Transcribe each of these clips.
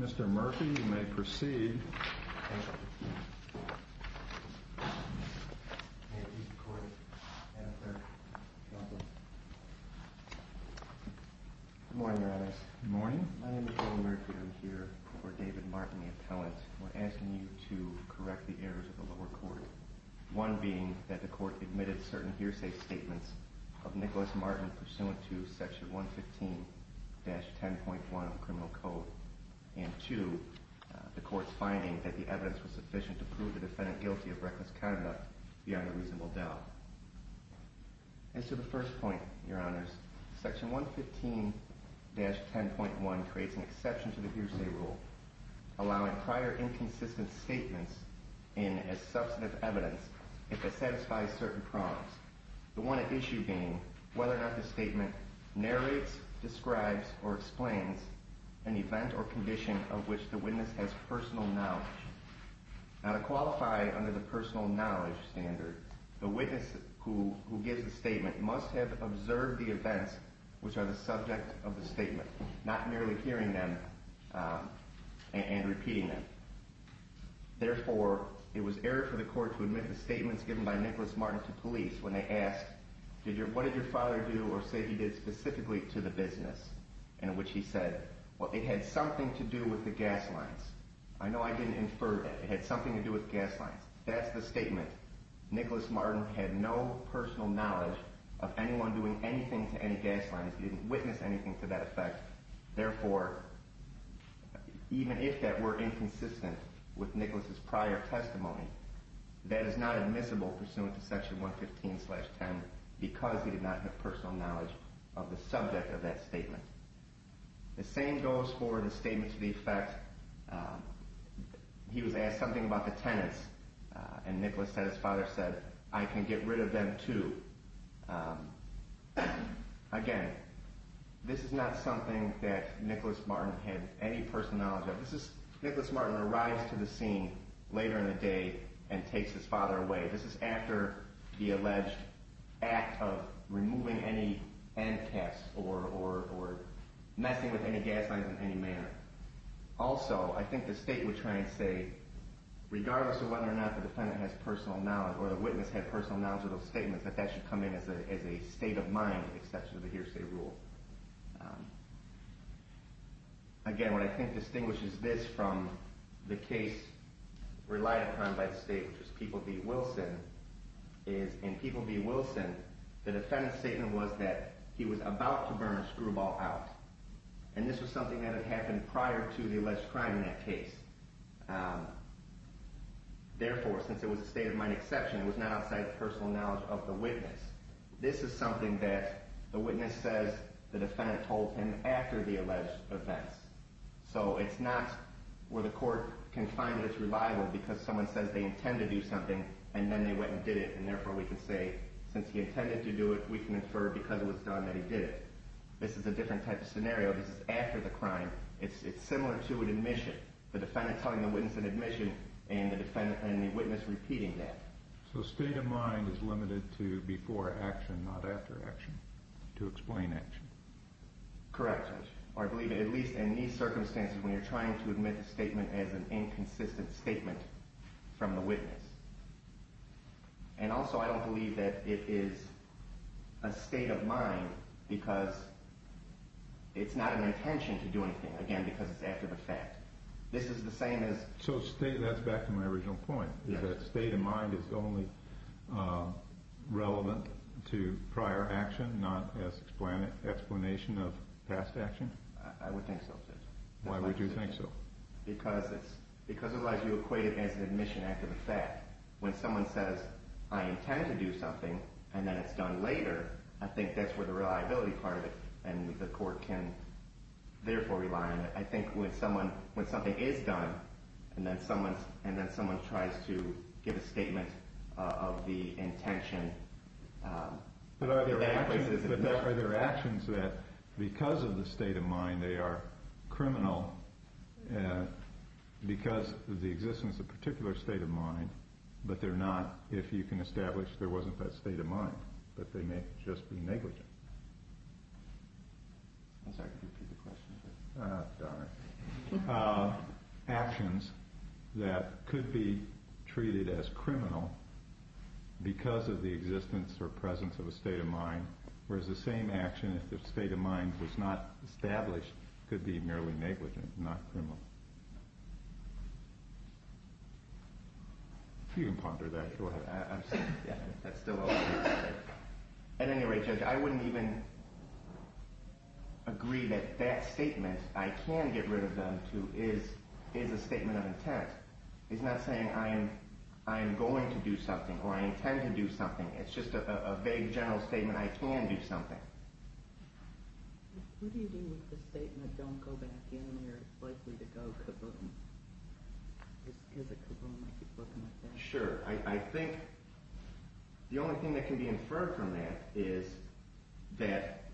Mr. Murphy, you may proceed. Thank you. May it please the Court, Your Honors, I would like to begin by acknowledging the errors of the lower court, one being that the Court admitted certain hearsay statements of Nicholas Martin pursuant to Section 115-10.1 of the Criminal Code, and two, the Court's finding that the evidence was sufficient to prove the defendant guilty of reckless conduct beyond a reasonable doubt. As to the first point, Your Honors, Section 115-10.1 creates an exception to the hearsay rule, allowing prior inconsistent statements in as substantive evidence if it satisfies certain prompts, the one at issue being whether or not the statement narrates, describes, or explains an event or condition of which the witness has personal knowledge. Now, to qualify under the personal knowledge standard, the witness who gives the statement must have observed the events which are the subject of the statement, not merely hearing them and repeating them. Therefore, it was error for the Court to admit the statements given by Nicholas Martin to police when they asked, what did your father do or say he did specifically to the business, in which he said, well, it had something to do with the gas lines. I know I didn't infer that. It had something to do with gas lines. That's the statement. Nicholas Martin had no personal knowledge of anyone doing anything to any gas lines. He didn't witness anything to that effect. Therefore, even if that were inconsistent with Nicholas's prior testimony, that is not admissible pursuant to Section 115-10 because he did not have personal knowledge of the subject of that statement. The same goes for the statement to the effect he was asked something about the tenants. And Nicholas said, his father said, I can get rid of them too. Again, this is not something that Nicholas Martin had any personal knowledge of. Nicholas Martin arrives to the scene later in the day and takes his father away. This is after the alleged act of removing any end caps or messing with any gas lines in any manner. Also, I think the state would try and say, regardless of whether or not the defendant has personal knowledge or the witness had personal knowledge of those statements, that that should come in as a state of mind, except for the hearsay rule. Again, what I think distinguishes this from the case relied upon by the state, which was People v. Wilson, is in People v. Wilson, the defendant's statement was that he was about to burn a screwball out. And this was something that had happened prior to the alleged crime in that case. Therefore, since it was a state of mind exception, it was not outside the personal knowledge of the witness. This is something that the witness says the defendant told him after the alleged events. So it's not where the court can find that it's reliable because someone says they intend to do something and then they went and did it. And therefore, we can say, since he intended to do it, we can infer because it was done that he did it. This is a different type of scenario. This is after the crime. It's similar to an admission. The defendant telling the witness an admission and the witness repeating that. So state of mind is limited to before action, not after action, to explain action. Correct, Judge. Or I believe at least in these circumstances when you're trying to admit a statement as an inconsistent statement from the witness. And also, I don't believe that it is a state of mind because it's not an intention to do anything. Again, because it's after the fact. This is the same as... So state, that's back to my original point, is that state of mind is only relevant to prior action, not as explanation of past action? I would think so, Judge. Why would you think so? Because otherwise you equate it as an admission after the fact. When someone says, I intend to do something and then it's done later, I think that's where the reliability part of it and the court can therefore rely on it. I think when something is done and then someone tries to give a statement of the intention... Are there actions that, because of the state of mind, they are criminal because of the existence of a particular state of mind, but they're not if you can establish there wasn't that state of mind, but they may just be negligent? I'm sorry, could you repeat the question? Ah, darn it. Actions that could be treated as criminal because of the existence or presence of a state of mind, whereas the same action if the state of mind was not established could be merely negligent, not criminal. If you can ponder that, go ahead. That's still open. At any rate, Judge, I wouldn't even agree that that statement, I can get rid of them, is a statement of intent. It's not saying I'm going to do something or I intend to do something. It's just a vague general statement, I can do something. What do you mean with the statement, don't go back in there, it's likely to go kaboom? Is it kaboom, I keep looking at that? Sure, I think the only thing that can be inferred from that is that,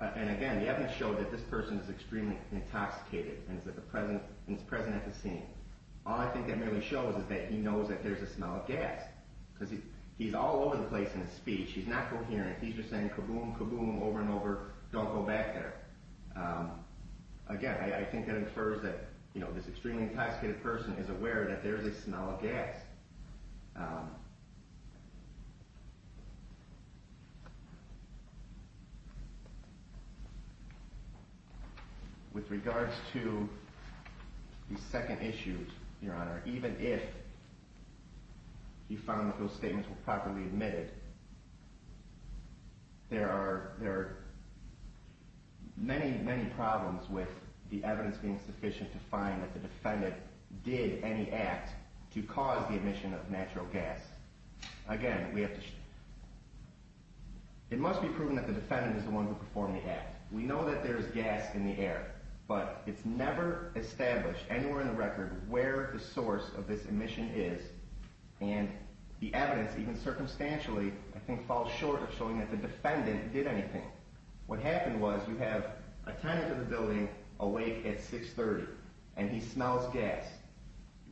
and again the evidence showed that this person is extremely intoxicated and is present at the scene. All I think that really shows is that he knows that there's a smell of gas, because he's all over the place in his speech, he's not coherent, he's just saying kaboom, kaboom, over and over, don't go back there. Again, I think that infers that this extremely intoxicated person is aware that there's a smell of gas. With regards to the second issue, Your Honor, even if you found that those statements were properly admitted, there are many, many problems with the evidence being sufficient to find that the defendant did any act to cause the emission of natural gas. Again, it must be proven that the defendant is the one who performed the act. We know that there is gas in the air, but it's never established anywhere in the record where the source of this emission is, and the evidence, even circumstantially, I think falls short of showing that the defendant did anything. What happened was, you have a tenant of the building awake at 6.30, and he smells gas.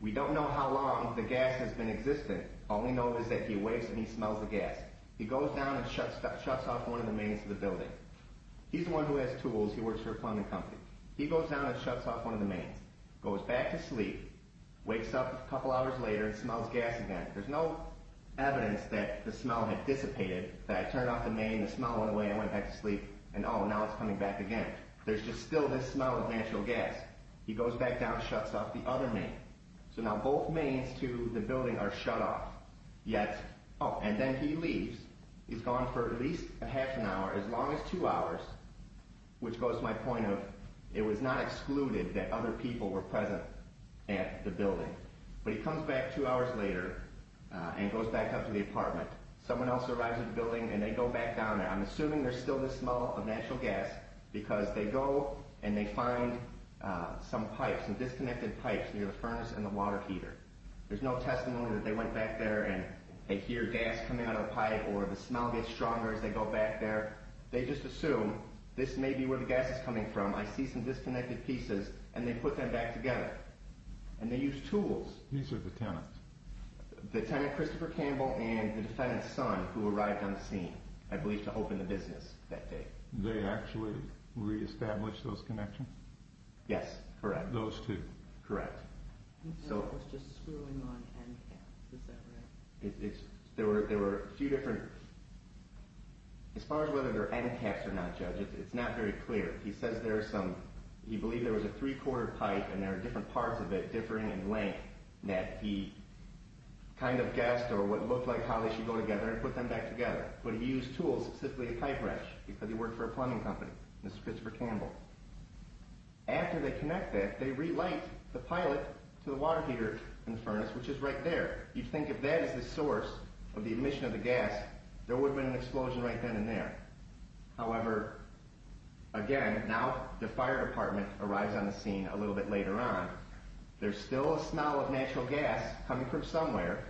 We don't know how long the gas has been existing, all we know is that he awakes and he smells the gas. He goes down and shuts off one of the mains of the building. He's the one who has tools, he works for a plumbing company. He goes down and shuts off one of the mains, goes back to sleep, wakes up a couple hours later and smells gas again. There's no evidence that the smell had dissipated, that I turned off the main, the smell went away, I went back to sleep, and now it's coming back again. There's just still this smell of natural gas. He goes back down and shuts off the other main. So now both mains to the building are shut off. And then he leaves, he's gone for at least half an hour, as long as two hours, which goes to my point of, it was not excluded that other people were present at the building. But he comes back two hours later and goes back up to the apartment. Someone else arrives at the building and they go back down there. I'm assuming there's still this smell of natural gas because they go and they find some pipes, some disconnected pipes near the furnace and the water heater. There's no testimony that they went back there and they hear gas coming out of the pipe or the smell gets stronger as they go back there. They just assume this may be where the gas is coming from. I see some disconnected pieces and they put them back together. And they use tools. These are the tenants? The tenant, Christopher Campbell, and the defendant's son, who arrived on the scene, I believe, to open the business that day. They actually reestablished those connections? Yes, correct. Those two? Correct. He said it was just screwing on end caps, is that right? There were a few different—as far as whether they're end caps or not, Judge, it's not very clear. He says there are some—he believed there was a three-quarter pipe and there are different parts of it differing in length that he kind of guessed or what looked like how they should go together and put them back together. But he used tools, specifically a pipe wrench, because he worked for a plumbing company, Mr. Christopher Campbell. After they connect that, they relight the pilot to the water heater in the furnace, which is right there. You'd think if that is the source of the emission of the gas, there would have been an explosion right then and there. However, again, now the fire department arrives on the scene a little bit later on. There's still a smell of natural gas coming from somewhere,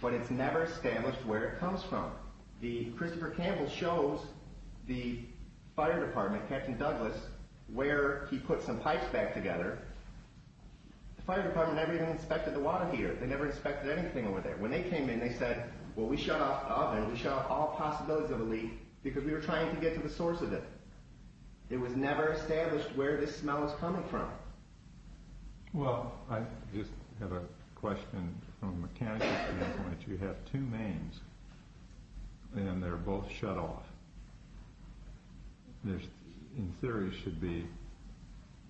but it's never established where it comes from. The—Christopher Campbell shows the fire department, Captain Douglas, where he put some pipes back together. The fire department never even inspected the water heater. They never inspected anything over there. When they came in, they said, well, we shut off the oven. We shut off all possibilities of a leak because we were trying to get to the source of it. It was never established where this smell was coming from. Well, I just have a question from a mechanical standpoint. You have two mains, and they're both shut off. In theory, it should be,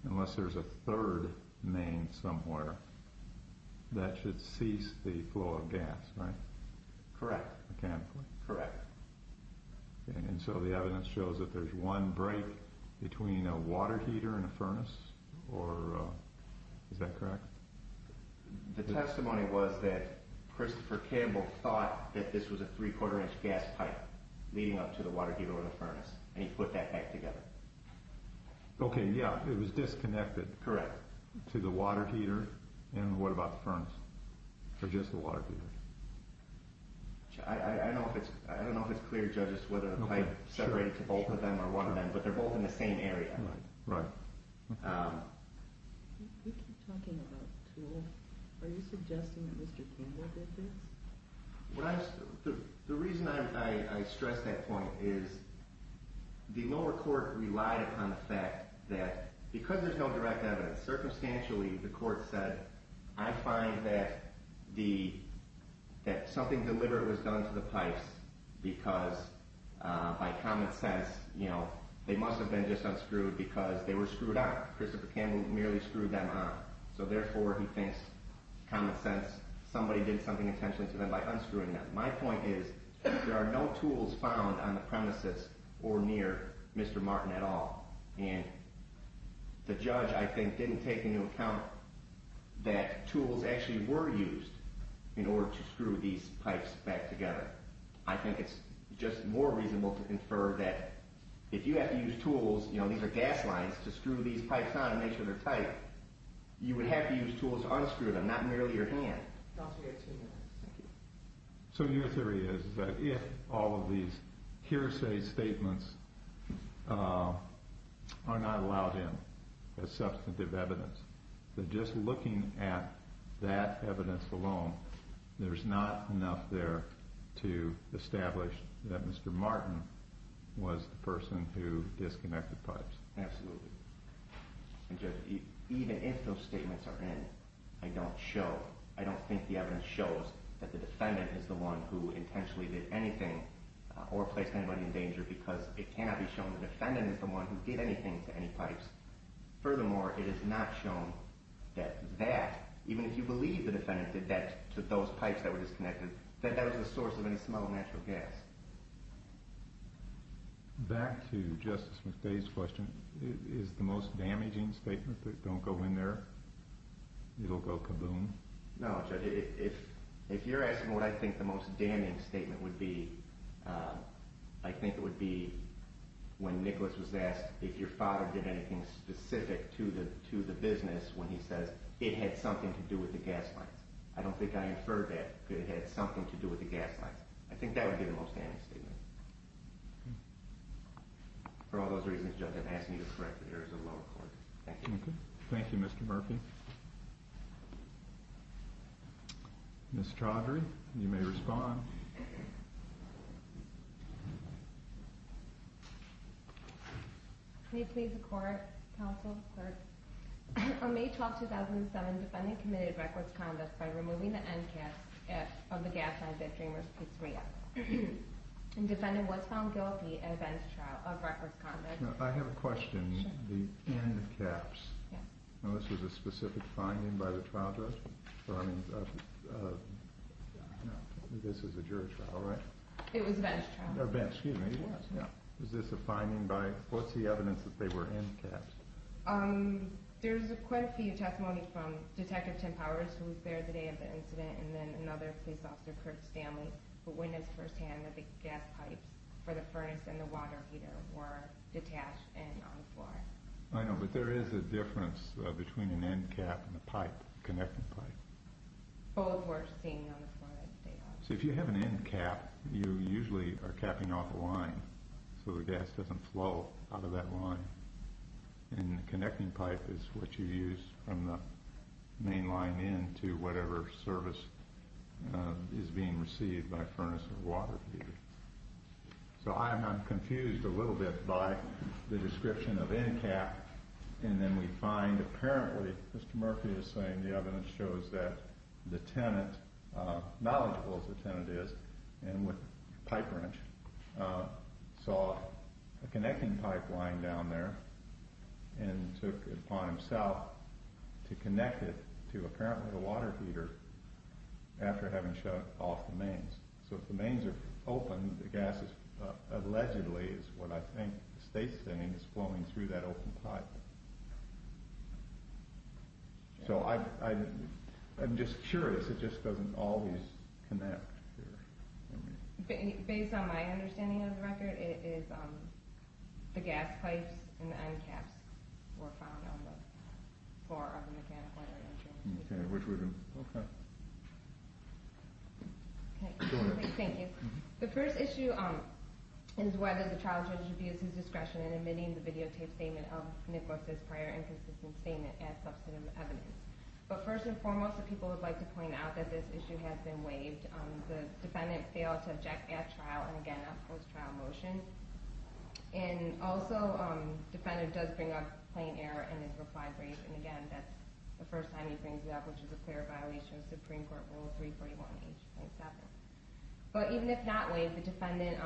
unless there's a third main somewhere, that should cease the flow of gas, right? Correct. Mechanically. Correct. And so the evidence shows that there's one break between a water heater and a furnace, or is that correct? The testimony was that Christopher Campbell thought that this was a three-quarter inch gas pipe leading up to the water heater or the furnace, and he put that back together. Okay, yeah, it was disconnected. Correct. To the water heater, and what about the furnace, or just the water heater? I don't know if it's clear, Judges, whether the pipe separated to both of them or one of them, but they're both in the same area. Right. You keep talking about tools. Are you suggesting that Mr. Campbell did this? The reason I stress that point is the lower court relied upon the fact that because there's no direct evidence, circumstantially, the court said, I find that something deliberate was done to the pipes because, by common sense, they must have been just unscrewed because they were screwed up. Christopher Campbell merely screwed them up. So therefore, he thinks, common sense, somebody did something intentionally to them by unscrewing them. My point is there are no tools found on the premises or near Mr. Martin at all, and the judge, I think, didn't take into account that tools actually were used in order to screw these pipes back together. I think it's just more reasonable to infer that if you have to use tools, you know, these are gas lines, to screw these pipes on and make sure they're tight, you would have to use tools to unscrew them, not merely your hand. Dr. Edson. Thank you. So your theory is that if all of these hearsay statements are not allowed in as substantive evidence, that just looking at that evidence alone, there's not enough there to establish that Mr. Martin was the person who disconnected pipes. Absolutely. And, Judge, even if those statements are in, I don't think the evidence shows that the defendant is the one who intentionally did anything or placed anybody in danger because it cannot be shown the defendant is the one who did anything to any pipes. Furthermore, it is not shown that that, even if you believe the defendant did that to those pipes that were disconnected, that that was the source of any smell of natural gas. Back to Justice McDay's question, is the most damaging statement that don't go in there, it'll go kaboom? No, Judge, if you're asking what I think the most damning statement would be, I think it would be when Nicholas was asked if your father did anything specific to the business when he says it had something to do with the gas lines. I don't think I inferred that it had something to do with the gas lines. I think that would be the most damning statement. For all those reasons, Judge, I'm asking you to correct the errors of lower court. Thank you. Thank you, Mr. Murphy. Ms. Chaudhary, you may respond. May it please the Court, Counsel, Clerk, On May 12, 2007, the defendant committed reckless conduct by removing the end caps of the gas lines at Dreamer's Pizzeria. The defendant was found guilty in a bench trial of reckless conduct. I have a question. Sure. The end caps. Yes. Now, this was a specific finding by the trial judge? This was a jury trial, right? It was a bench trial. A bench, excuse me. Yes. Is this a finding by, what's the evidence that they were end caps? There's quite a few testimonies from Detective Tim Powers, who was there the day of the incident, and then another police officer, Kurt Stanley, who witnessed firsthand that the gas pipes for the furnace and the water heater were detached and not on the floor. I know, but there is a difference between an end cap and a pipe, a connecting pipe. Both were standing on the floor. So if you have an end cap, you usually are capping off a line so the gas doesn't flow out of that line. And the connecting pipe is what you use from the main line in to whatever service is being received by a furnace or water heater. So I'm confused a little bit by the description of end cap, and then we find apparently Mr. Murphy is saying the evidence shows that the tenant, knowledgeable as the tenant is, and with a pipe wrench, saw a connecting pipe lying down there and took it upon himself to connect it to apparently the water heater after having shut off the mains. So if the mains are open, the gas is allegedly, is what I think the state's saying, is flowing through that open pipe. So I'm just curious. It just doesn't always connect. Based on my understanding of the record, it is the gas pipes and the end caps were found on the floor of the mechanical area. Okay, which we do. Okay. Thank you. The first issue is whether the child judge should be at his discretion in admitting the videotaped statement of Nicholas's prior inconsistent statement as substantive evidence. But first and foremost, the people would like to point out that this issue has been waived. The defendant failed to object at trial, and again, that was a trial motion. And also, the defendant does bring up plain error in his reply brief, and again, that's the first time he brings it up, which is a clear violation of Supreme Court Rule 341H.7. But even if not waived, the defendant's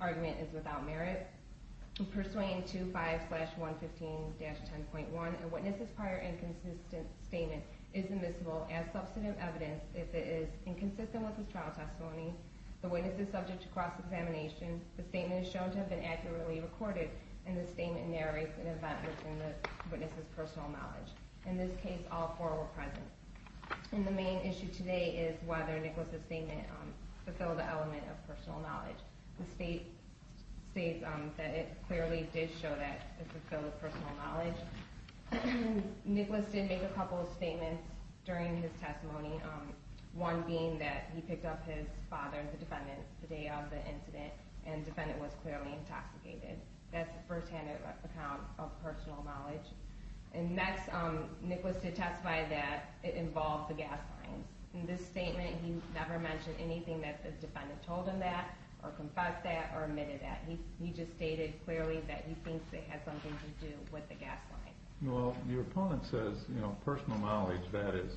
argument is without merit. Persuading 2-5-115-10.1, a witness's prior inconsistent statement is admissible as substantive evidence if it is inconsistent with his trial testimony, the witness is subject to cross-examination, the statement is shown to have been accurately recorded, and the statement narrates an event within the witness's personal knowledge. In this case, all four were present. And the main issue today is whether Nicholas's statement fulfilled the element of personal knowledge. The state states that it clearly did show that it fulfilled personal knowledge. Nicholas did make a couple of statements during his testimony, one being that he picked up his father, the defendant, the day of the incident, and the defendant was clearly intoxicated. That's a first-hand account of personal knowledge. And next, Nicholas testified that it involved the gas line. In this statement, he never mentioned anything that the defendant told him that, or confessed that, or admitted that. He just stated clearly that he thinks it had something to do with the gas line. Well, your opponent says, you know, personal knowledge, that is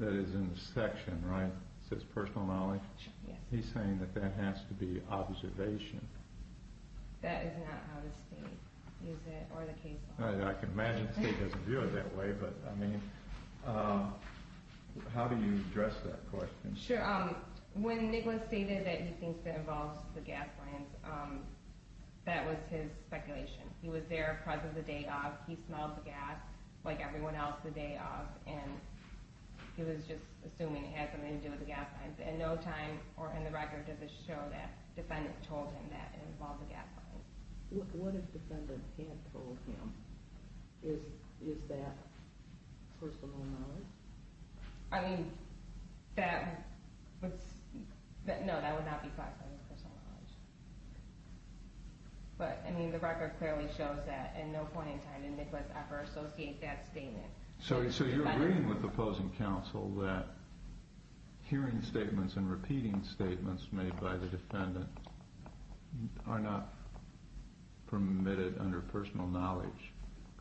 in the section, right? It says personal knowledge. He's saying that that has to be observation. That is not how the state used it, or the case law. I can imagine the state doesn't view it that way, but, I mean, how do you address that question? Sure. When Nicholas stated that he thinks it involves the gas lines, that was his speculation. He was there present the day of, he smelled the gas like everyone else the day of, and he was just assuming it had something to do with the gas lines. In no time, or in the record, does it show that the defendant told him that it involved the gas lines. What if the defendant had told him? Is that personal knowledge? I mean, that would not be classified as personal knowledge. But, I mean, the record clearly shows that in no point in time did Nicholas ever associate that statement with the defendant. So you're agreeing with the opposing counsel that hearing statements and repeating statements made by the defendant are not permitted under personal knowledge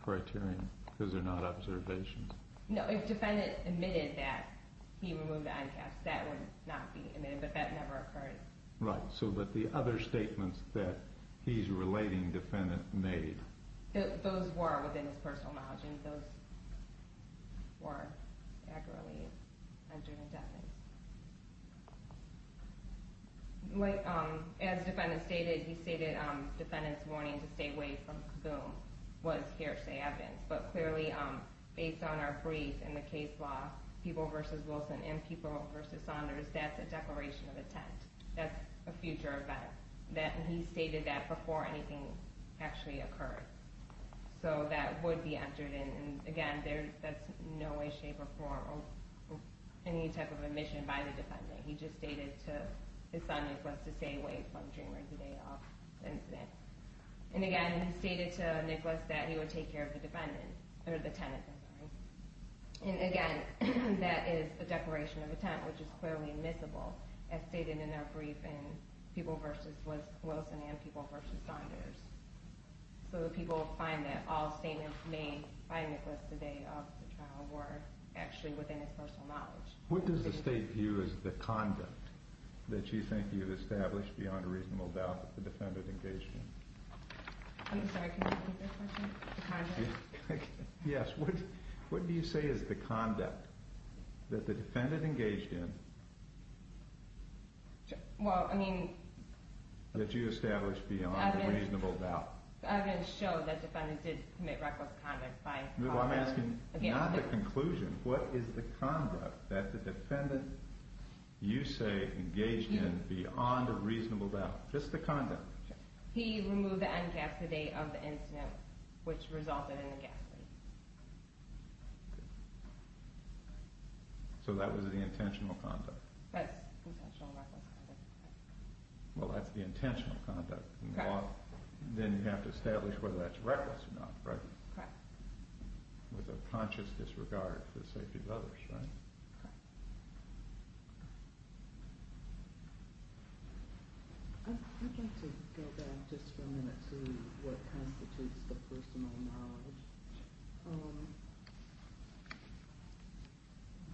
criterion because they're not observations. No, if the defendant admitted that he removed the eye caps, that would not be admitted, but that never occurred. Right. So, but the other statements that he's relating defendant made. Those were within his personal knowledge, and those were accurately entered into evidence. As the defendant stated, he stated the defendant's warning to stay away from Kaboom was hearsay evidence, but clearly based on our brief and the case law, People v. Wilson and People v. Saunders, that's a declaration of intent. That's a future event. He stated that before anything actually occurred. So that would be entered in, and again, that's in no way, shape, or form of any type of admission by the defendant. He just stated to his son Nicholas to stay away from Dreamer the day of the incident. And again, he stated to Nicholas that he would take care of the defendant, or the tenant, I'm sorry. And again, that is a declaration of intent, which is clearly admissible, as stated in our brief in People v. Wilson and People v. Saunders. So the people find that all statements made by Nicholas the day of the trial were actually within his personal knowledge. What does the state view as the conduct that you think you've established beyond a reasonable doubt that the defendant engaged in? I'm sorry, can you repeat that question? The conduct? Yes, what do you say is the conduct that the defendant engaged in that you established beyond a reasonable doubt? The evidence showed that the defendant did commit reckless conduct by- I'm asking not the conclusion. What is the conduct that the defendant, you say, engaged in beyond a reasonable doubt? Just the conduct. He removed the N-gas the day of the incident, which resulted in the gas leak. So that was the intentional conduct. That's intentional reckless conduct. Well, that's the intentional conduct. Then you have to establish whether that's reckless or not, right? Correct. With a conscious disregard for the safety of others, right? Correct. I'd like to go back just for a minute to what constitutes the personal knowledge.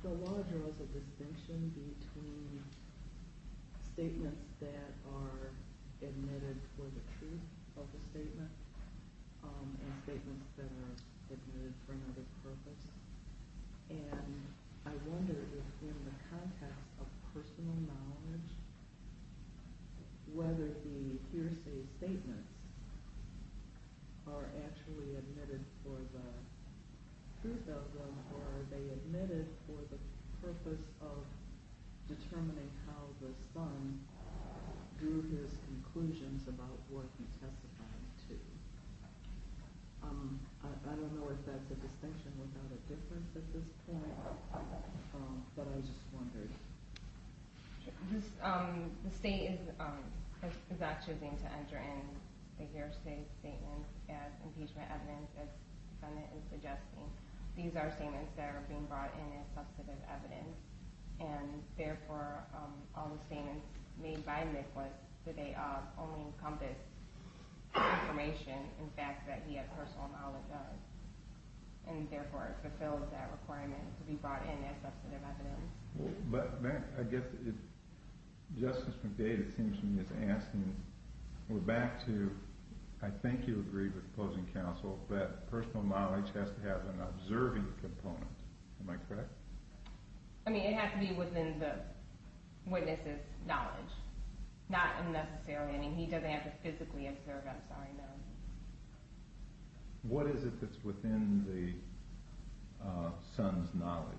The law draws a distinction between statements that are admitted for the truth of the statement and statements that are admitted for another purpose. And I wonder if in the context of personal knowledge, whether the hearsay statements are actually admitted for the truth of them, or are they admitted for the purpose of determining how the son drew his conclusions about what he testified to. I don't know if that's a distinction without a difference at this point, but I just wondered. The state is not choosing to enter in the hearsay statements as impeachment evidence, as the defendant is suggesting. These are statements that are being brought in as substantive evidence. And, therefore, all the statements made by Mick was that they only encompass information, in fact, that he had personal knowledge of. And, therefore, it fulfills that requirement to be brought in as substantive evidence. But, I guess, Justice McDade, it seems to me, is asking. We're back to, I think you agreed with the closing counsel, that personal knowledge has to have an observing component. Am I correct? I mean, it has to be within the witness's knowledge. Not unnecessary. I mean, he doesn't have to physically observe. I'm sorry, ma'am. What is it that's within the son's knowledge?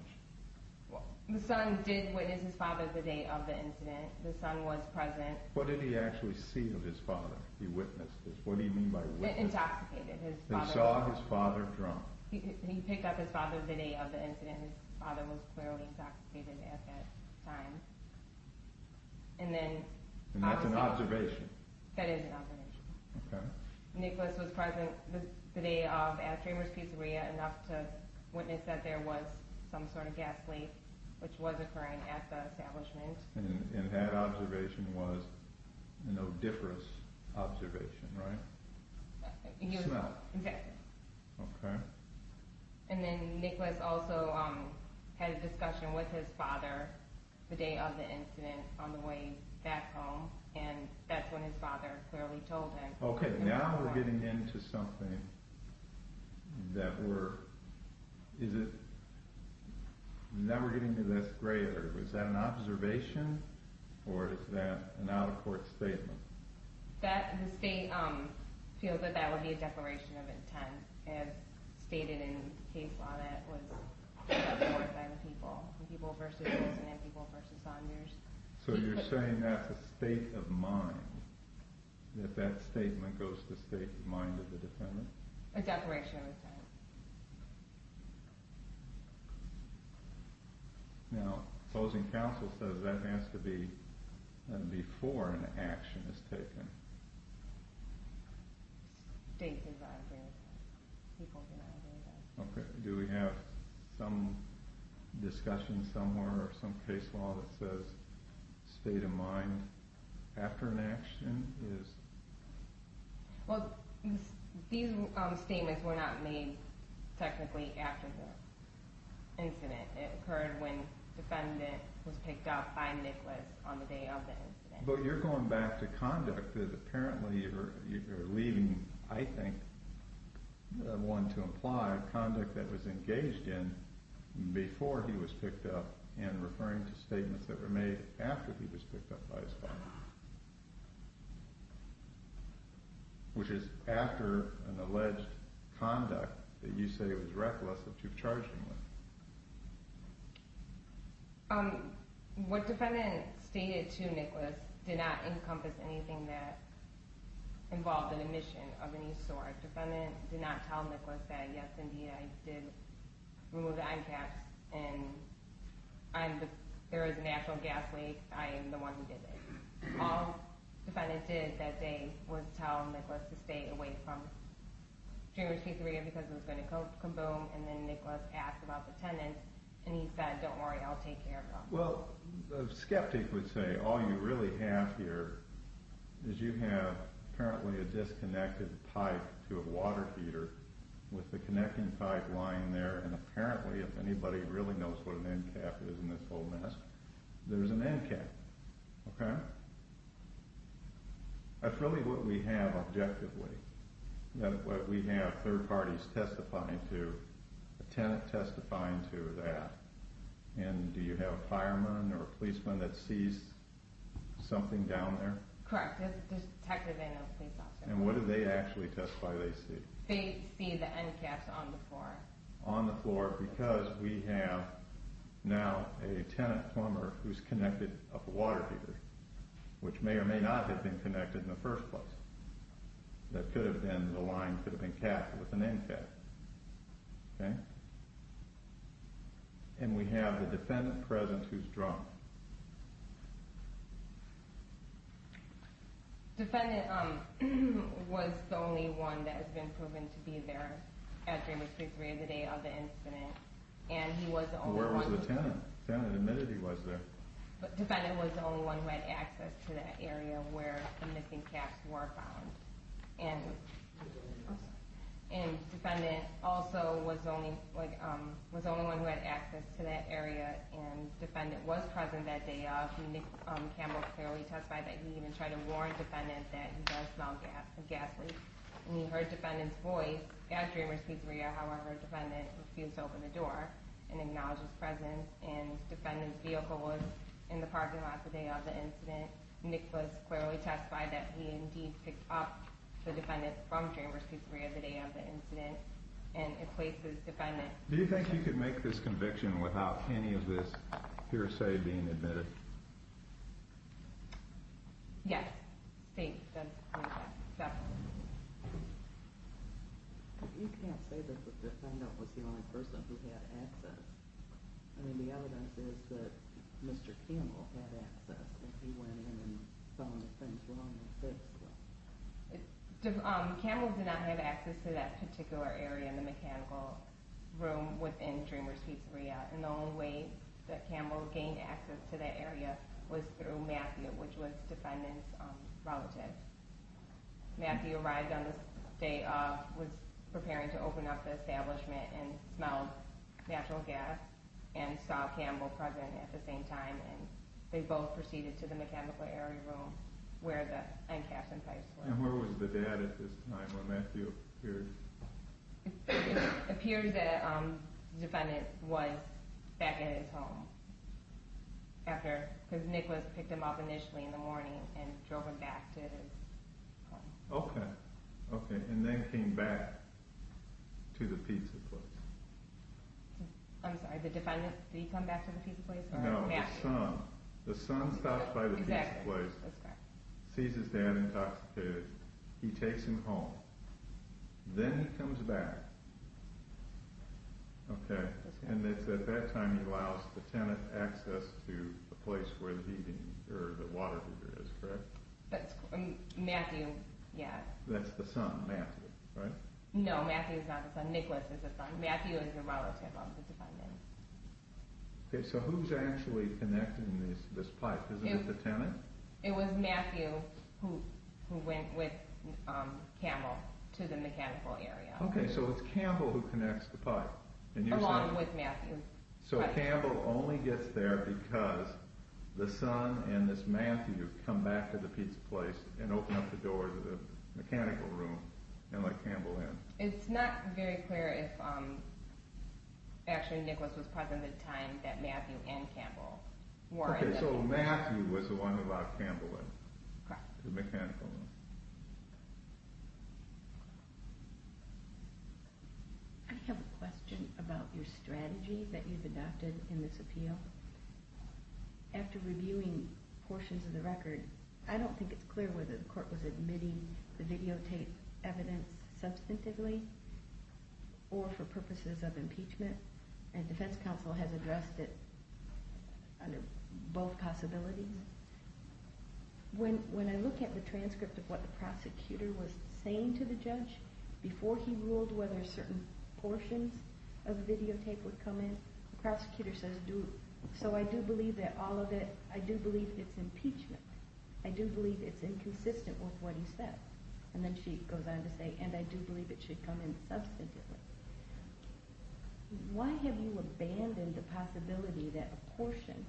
The son did witness his father the day of the incident. The son was present. What did he actually see of his father? He witnessed this. What do you mean by witnessed? They intoxicated his father. They saw his father drunk. He picked up his father the day of the incident. His father was clearly intoxicated at that time. And that's an observation. That is an observation. Nicholas was present the day of at Draymer's Pizzeria enough to witness that there was some sort of gas leak, which was occurring at the establishment. And that observation was a no-difference observation, right? Smell. Infected. Okay. And then Nicholas also had a discussion with his father the day of the incident on the way back home, and that's when his father clearly told him. Okay. Now we're getting into something that we're – is it – now we're getting into this greater. Is that an observation, or is that an out-of-court statement? That – the state feels that that would be a declaration of intent, as stated in case law that was out-of-court by the people, the people versus Wilson and people versus Saunders. So you're saying that's a state of mind, that that statement goes to state of mind of the defendant? A declaration of intent. Now, opposing counsel says that has to be before an action is taken. State's advisory. People's advisory. Okay. Do we have some discussion somewhere or some case law that says state of mind after an action is – Well, these statements were not made technically after the incident. It occurred when defendant was picked up by Nicholas on the day of the incident. But you're going back to conduct that apparently you're leaving, I think, one to imply conduct that was engaged in before he was picked up and referring to statements that were made after he was picked up by his father, which is after an alleged conduct that you say was reckless that you've charged him with. What defendant stated to Nicholas did not encompass anything that involved an admission of any sort. Defendant did not tell Nicholas that, yes, indeed, I did remove the eye caps and I'm the – there is a natural gas leak. I am the one who did it. All defendant did that day was tell Nicholas to stay away from January 23 because it was going to come boom and then Nicholas asked about the tenant and he said, don't worry, I'll take care of it. Well, a skeptic would say all you really have here is you have apparently a disconnected pipe to a water heater with the connecting pipe lying there and apparently if anybody really knows what an end cap is in this whole mess, there's an end cap. Okay. That's really what we have objectively. That's what we have third parties testifying to, a tenant testifying to that. And do you have a fireman or a policeman that sees something down there? Correct. There's a detective and a police officer. And what do they actually testify they see? They see the end caps on the floor. On the floor because we have now a tenant plumber who's connected up a water heater, which may or may not have been connected in the first place. That could have been – the line could have been capped with an end cap. Okay. And we have the defendant present who's drunk. Defendant was the only one that has been proven to be there at Draymond Street three of the day of the incident. And he was the only one – Where was the tenant? The tenant admitted he was there. But defendant was the only one who had access to that area where the missing caps were found. And defendant also was the only one who had access to that area and defendant was present that day of. Do you think you could make this conviction without any of this hearsay being admitted? Yes. You can't say that the defendant was the only person who had access. I mean, the evidence is that Mr. Campbell had access if he went in and found the things were on the fifth floor. Campbell did not have access to that particular area in the mechanical room within Dreamers Pizzeria. And the only way that Campbell gained access to that area was through Matthew, which was defendant's relative. Matthew arrived on the day of, was preparing to open up the establishment and smelled natural gas and saw Campbell present at the same time and they both proceeded to the mechanical area room where the end caps and pipes were. And where was the dad at this time when Matthew appeared? It appears that the defendant was back at his home because Nicholas picked him up initially in the morning and drove him back to his home. Okay. And then came back to the pizza place. I'm sorry, the defendant, did he come back to the pizza place? No, the son. The son stops by the pizza place, sees his dad intoxicated, he takes him home. Then he comes back. Okay. And it's at that time he allows the tenant access to the place where the water heater is, correct? Matthew, yes. That's the son, Matthew, right? No, Matthew is not the son. Nicholas is the son. Matthew is the relative of the defendant. Okay, so who's actually connecting this pipe? Isn't it the tenant? It was Matthew who went with Campbell to the mechanical area. Okay, so it's Campbell who connects the pipe. Along with Matthew. So Campbell only gets there because the son and this Matthew come back to the pizza place and open up the door to the mechanical room and let Campbell in. It's not very clear if actually Nicholas was present at the time that Matthew and Campbell were. Okay, so Matthew was the one who locked Campbell in to the mechanical room. I have a question about your strategy that you've adopted in this appeal. After reviewing portions of the record, I don't think it's clear whether the court was admitting the videotape evidence substantively or for purposes of impeachment. And defense counsel has addressed it under both possibilities. When I look at the transcript of what the prosecutor was saying to the judge before he ruled whether certain portions of the videotape would come in, the prosecutor says, so I do believe that all of it, I do believe it's impeachment. I do believe it's inconsistent with what he said. And then she goes on to say, and I do believe it should come in substantively. Why have you abandoned the possibility that a portion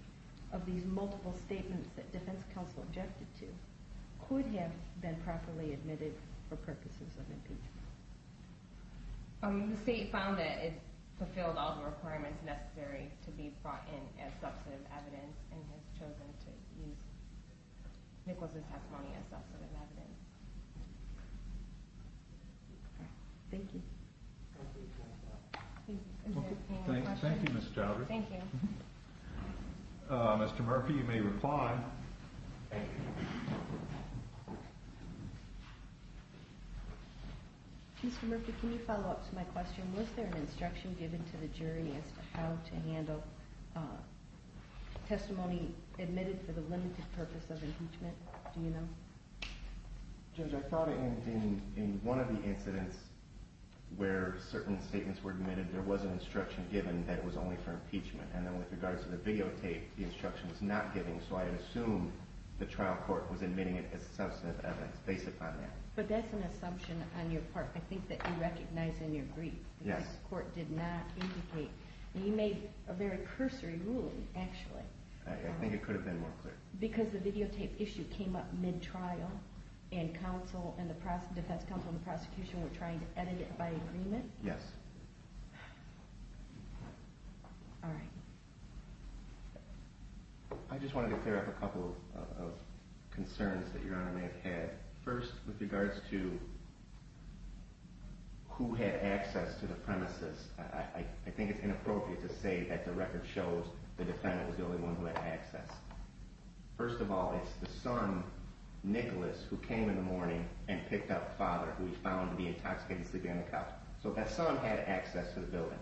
of these multiple statements that defense counsel objected to could have been properly admitted for purposes of impeachment? The state found that it fulfilled all the requirements necessary to be brought in as substantive evidence and has chosen to use Nicholas' testimony as substantive evidence. Thank you. Thank you, Ms. Chowdhury. Thank you. Mr. Murphy, you may reply. Mr. Murphy, can you follow up to my question? Was there an instruction given to the jury as to how to handle testimony admitted for the limited purpose of impeachment? Do you know? Judge, I thought in one of the incidents where certain statements were admitted, there was an instruction given that it was only for impeachment. And then with regards to the videotape, the instruction was not given, so I assume the trial court was admitting it as substantive evidence based upon that. But that's an assumption on your part, I think, that you recognize in your brief. Yes. The court did not indicate. You made a very cursory ruling, actually. I think it could have been more clear. Because the videotape issue came up mid-trial and defense counsel and the prosecution were trying to edit it by agreement? Yes. All right. I just wanted to clear up a couple of concerns that Your Honor may have had. First, with regards to who had access to the premises, I think it's inappropriate to say that the record shows the defendant was the only one who had access. First of all, it's the son, Nicholas, who came in the morning and picked up father, who he found to be intoxicated and sleeping on the couch. So that son had access to the building.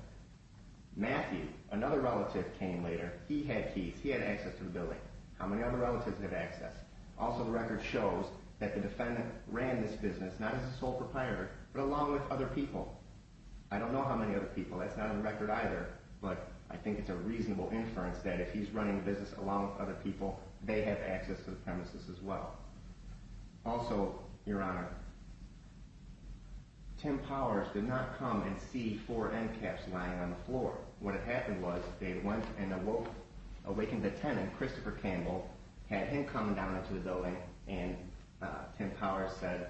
Matthew, another relative, came later. He had keys. He had access to the building. How many other relatives have access? Also, the record shows that the defendant ran this business not as a sole proprietor but along with other people. I don't know how many other people. That's not in the record either, but I think it's a reasonable inference that if he's running a business along with other people, they have access to the premises as well. Also, Your Honor, Tim Powers did not come and see four end caps lying on the floor. What had happened was they went and awoke, awakened the tenant, Christopher Campbell, had him come down into the building, and Tim Powers said,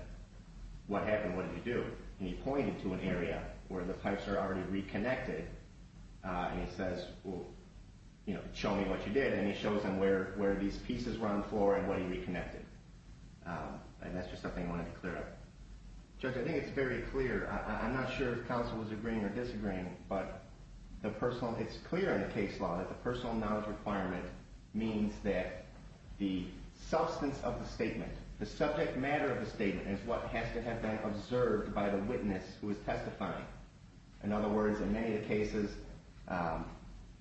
What happened? What did he do? And he pointed to an area where the pipes are already reconnected, and he says, well, show me what you did. And he shows them where these pieces were on the floor and what he reconnected. And that's just something I wanted to clear up. Judge, I think it's very clear. I'm not sure if counsel was agreeing or disagreeing, but it's clear in the case law that the personal knowledge requirement means that the substance of the statement, the subject matter of the statement is what has to have been observed by the witness who is testifying. In other words, in many cases,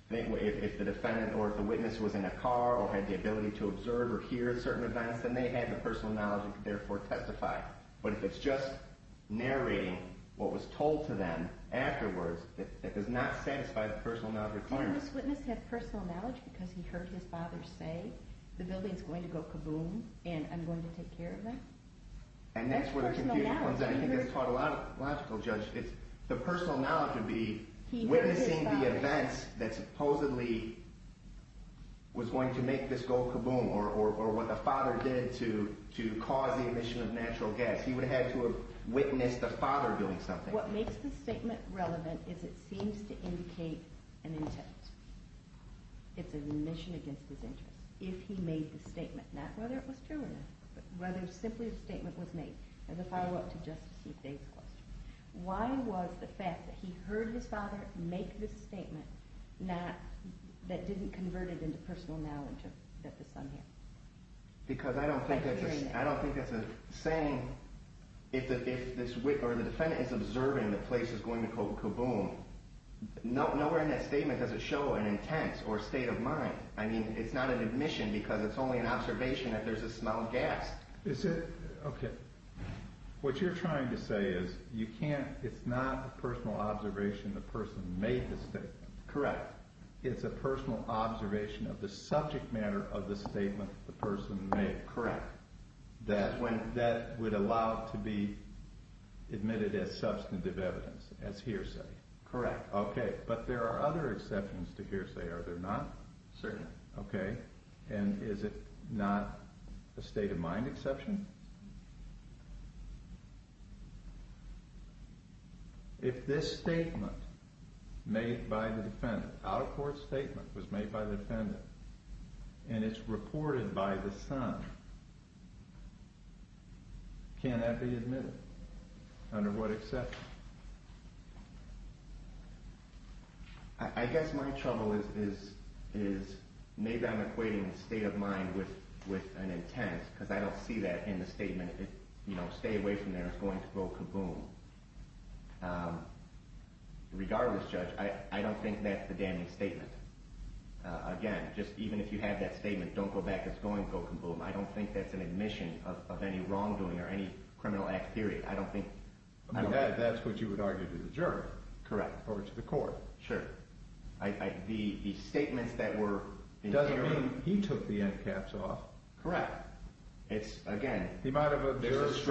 if the defendant or if the witness was in a car or had the ability to observe or hear certain events, then they had the personal knowledge and could therefore testify. But if it's just narrating what was told to them afterwards, that does not satisfy the personal knowledge requirement. Did this witness have personal knowledge because he heard his father say the building is going to go kaboom and I'm going to take care of it? And that's where the confusion comes in. I think that's taught a lot of logical, Judge. The personal knowledge would be witnessing the events that supposedly was going to make this go kaboom or what the father did to cause the emission of natural gas. He would have had to have witnessed the father doing something. But what makes this statement relevant is it seems to indicate an intent. It's an admission against his interest if he made the statement, not whether it was true or not, but whether simply the statement was made. As a follow-up to Justice E. Faye's question, why was the fact that he heard his father make this statement that didn't convert it into personal knowledge that the son had? Because I don't think that's a saying if the defendant is observing the place is going to go kaboom. Nowhere in that statement does it show an intent or state of mind. I mean, it's not an admission because it's only an observation that there's a smell of gas. Okay. What you're trying to say is it's not a personal observation the person made the statement. Correct. It's a personal observation of the subject matter of the statement the person made. Correct. That would allow it to be admitted as substantive evidence, as hearsay. Correct. Okay. But there are other exceptions to hearsay, are there not? Certainly. Okay. And is it not a state of mind exception? If this statement made by the defendant, out-of-court statement was made by the defendant, and it's reported by the son, can that be admitted? Under what exception? I guess my trouble is maybe I'm equating state of mind with an intent because I don't see that in the statement. You know, stay away from there, it's going to go kaboom. Regardless, Judge, I don't think that's the damning statement. Again, just even if you have that statement, don't go back, it's going to go kaboom. I don't think that's an admission of any wrongdoing or any criminal act, period. That's what you would argue to the jury. Correct. Or to the court. Sure. The statements that were in here— Doesn't mean he took the end caps off. Correct. It's, again— He might have observed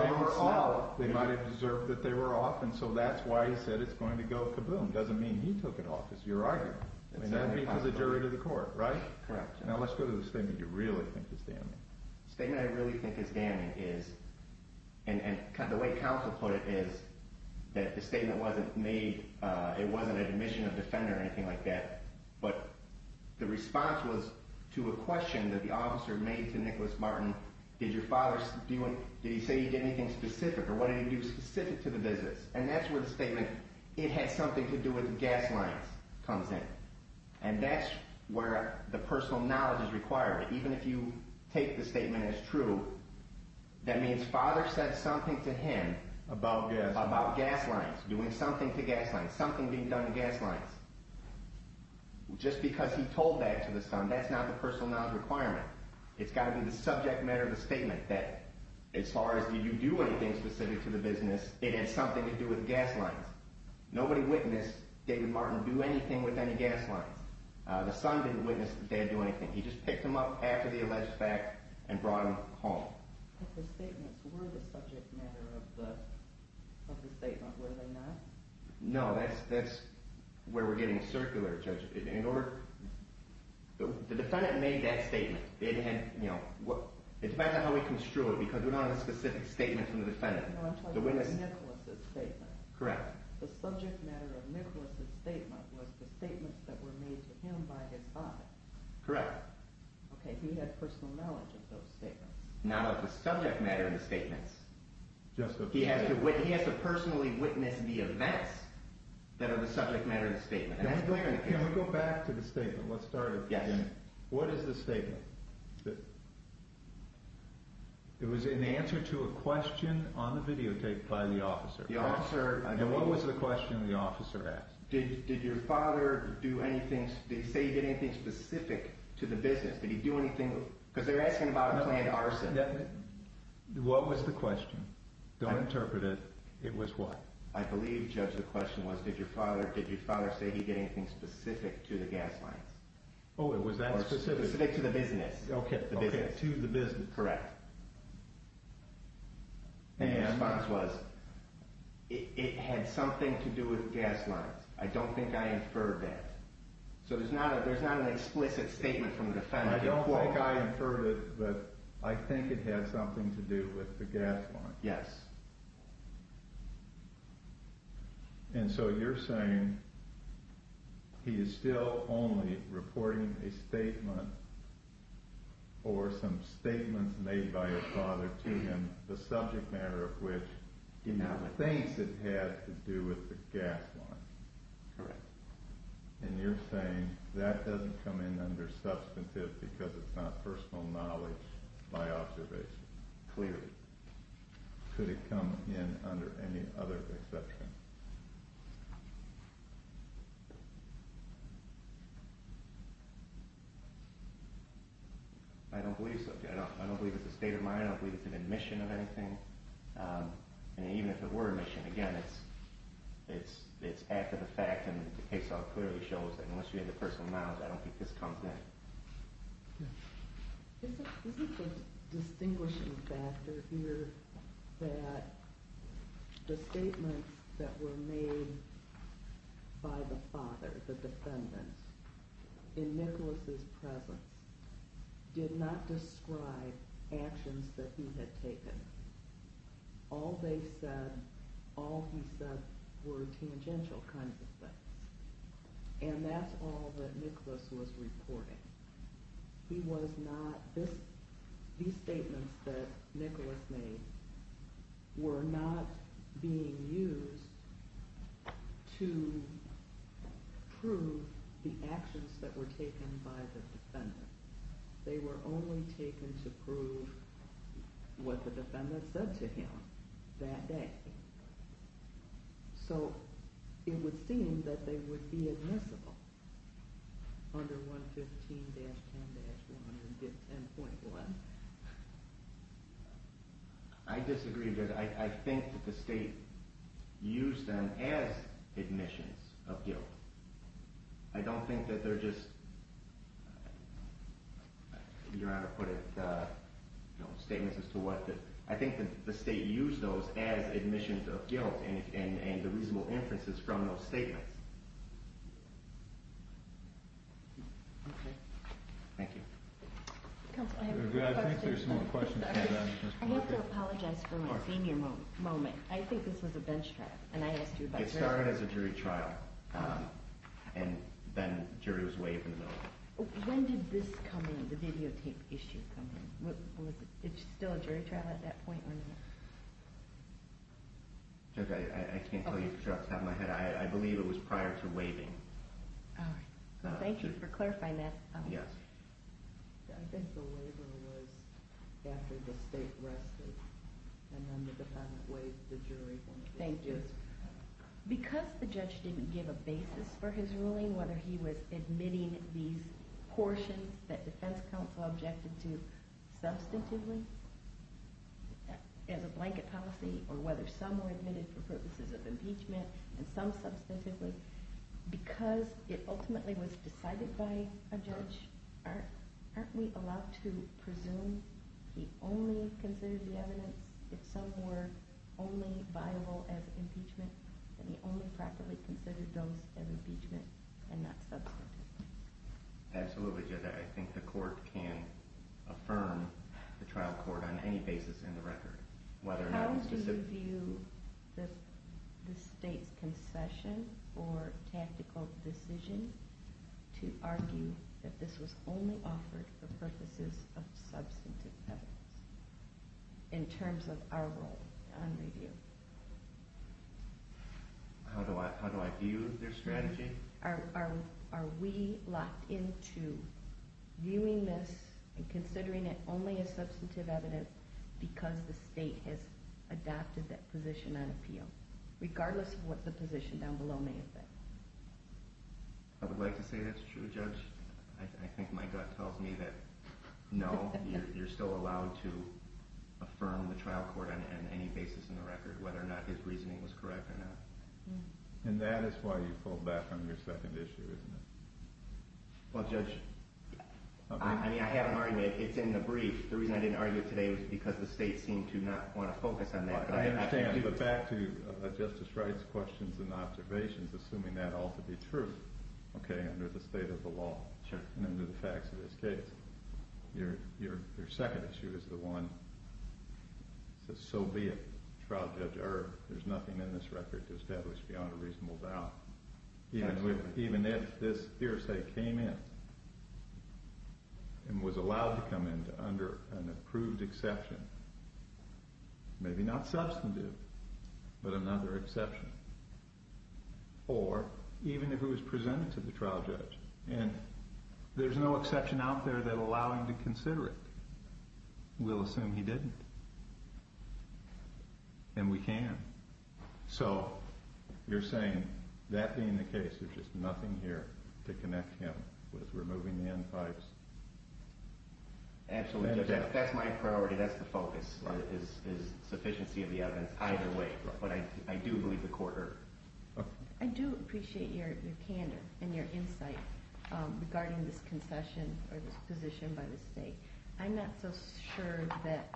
that they were off, and so that's why he said it's going to go kaboom. Doesn't mean he took it off, is your argument. It's that because of the jury to the court, right? Correct. Now let's go to the statement you really think is damning. The statement I really think is damning is—and the way counsel put it is that the statement wasn't made— it wasn't an admission of defender or anything like that, but the response was to a question that the officer made to Nicholas Martin. Did your father—did he say he did anything specific, or what did he do specific to the visits? And that's where the statement, it has something to do with gas lines, comes in. And that's where the personal knowledge is required. Even if you take the statement as true, that means father said something to him about gas lines, doing something to gas lines, something being done to gas lines. Just because he told that to the son, that's not the personal knowledge requirement. It's got to be the subject matter of the statement that as far as did you do anything specific to the business, it has something to do with gas lines. Nobody witnessed David Martin do anything with any gas lines. The son didn't witness the dad do anything. He just picked him up after the alleged fact and brought him home. But the statements were the subject matter of the statement, were they not? No, that's where we're getting circular, Judge. In order—the defendant made that statement. It depends on how we construe it because we're not on a specific statement from the defendant. No, I'm talking about Nicholas's statement. Correct. The subject matter of Nicholas's statement was the statements that were made to him by his father. Correct. Okay, he had personal knowledge of those statements. Not of the subject matter of the statements. He has to personally witness the events that are the subject matter of the statement. Can we go back to the statement? Let's start again. Yes. What is the statement? It was in answer to a question on the videotape by the officer. The officer— And what was the question the officer asked? Did your father do anything—did he say he did anything specific to the business? Did he do anything—because they're asking about a planned arson. What was the question? Don't interpret it. It was what? I believe, Judge, the question was did your father say he did anything specific to the gas lines? Oh, it was that specific? Specific to the business. Okay, to the business. Correct. And— The response was it had something to do with gas lines. I don't think I inferred that. So there's not an explicit statement from the defendant. I don't think I inferred it, but I think it had something to do with the gas lines. Yes. And so you're saying he is still only reporting a statement or some statements made by his father to him, the subject matter of which he thinks it had to do with the gas lines. Correct. And you're saying that doesn't come in under substantive because it's not personal knowledge by observation. Clearly. Could it come in under any other exception? I don't believe so. I don't believe it's a state of mind. I don't believe it's an admission of anything. And even if it were an admission, again, it's after the fact, and the case law clearly shows that unless you have the personal knowledge, I don't think this comes in. Okay. Isn't the distinguishing factor here that the statements that were made by the father, the defendant, in Nicholas's presence, did not describe actions that he had taken? All they said, all he said, were tangential kinds of things. And that's all that Nicholas was reporting. These statements that Nicholas made were not being used to prove the actions that were taken by the defendant. They were only taken to prove what the defendant said to him that day. So it would seem that they would be admissible under 115-10-110.1. I disagree because I think that the state used them as admissions of guilt. I don't think that they're just, you know how to put it, statements as to what, I think that the state used those as admissions of guilt and the reasonable inferences from those statements. Okay. Thank you. Counsel, I have a question. I think there's some more questions. I have to apologize for my senior moment. I think this was a bench trial. It started as a jury trial. And then the jury was waived in the middle. When did this come in, the videotape issue come in? Was it still a jury trial at that point or not? Judge, I can't tell you for sure off the top of my head. I believe it was prior to waiving. Thank you for clarifying that. Yes. I think the waiver was after the state rested. And then the defendant waived the jury when it was due. Thank you. Because the judge didn't give a basis for his ruling, whether he was admitting these portions that defense counsel objected to substantively as a blanket policy, or whether some were admitted for purposes of impeachment and some substantively, because it ultimately was decided by a judge, aren't we allowed to presume he only considered the evidence if some were only viable as impeachment, and he only properly considered those as impeachment and not substantively? Absolutely, Judge. I think the court can affirm the trial court on any basis in the record, whether or not it's... Do you view the state's concession or tactical decision to argue that this was only offered for purposes of substantive evidence in terms of our role on review? How do I view their strategy? Are we locked into viewing this and considering it only as substantive evidence because the state has adopted that position on appeal, regardless of what the position down below may have been? I would like to say that's true, Judge. I think my gut tells me that no, you're still allowed to affirm the trial court on any basis in the record, whether or not his reasoning was correct or not. And that is why you pulled back on your second issue, isn't it? Well, Judge, I mean, I have an argument. It's in the brief. The reason I didn't argue it today was because the state seemed to not want to focus on that. I understand, but back to Justice Wright's questions and observations, assuming that ought to be true, okay, under the state of the law and under the facts of this case. Your second issue is the one that says, so be it, Trial Judge Erb. There's nothing in this record to establish beyond a reasonable doubt. Even if this hearsay came in and was allowed to come in under an approved exception, maybe not substantive, but another exception. Or, even if it was presented to the trial judge, and there's no exception out there that would allow him to consider it, we'll assume he didn't. And we can. So, you're saying that being the case, there's just nothing here to connect him with removing the end pipes? Absolutely. That's my priority. That's the focus, is sufficiency of the evidence either way. But I do believe the court heard. I do appreciate your candor and your insight regarding this concession or this position by the state. I'm not so sure that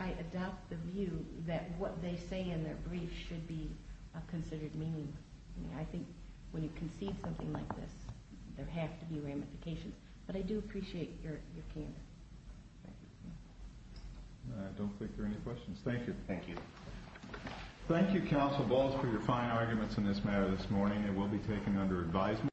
I adopt the view that what they say in their brief should be considered meaningful. I think when you concede something like this, there have to be ramifications. But I do appreciate your candor. I don't think there are any questions. Thank you. Thank you. Thank you, Counsel Balls, for your fine arguments in this matter this morning. It will be taken under advisement.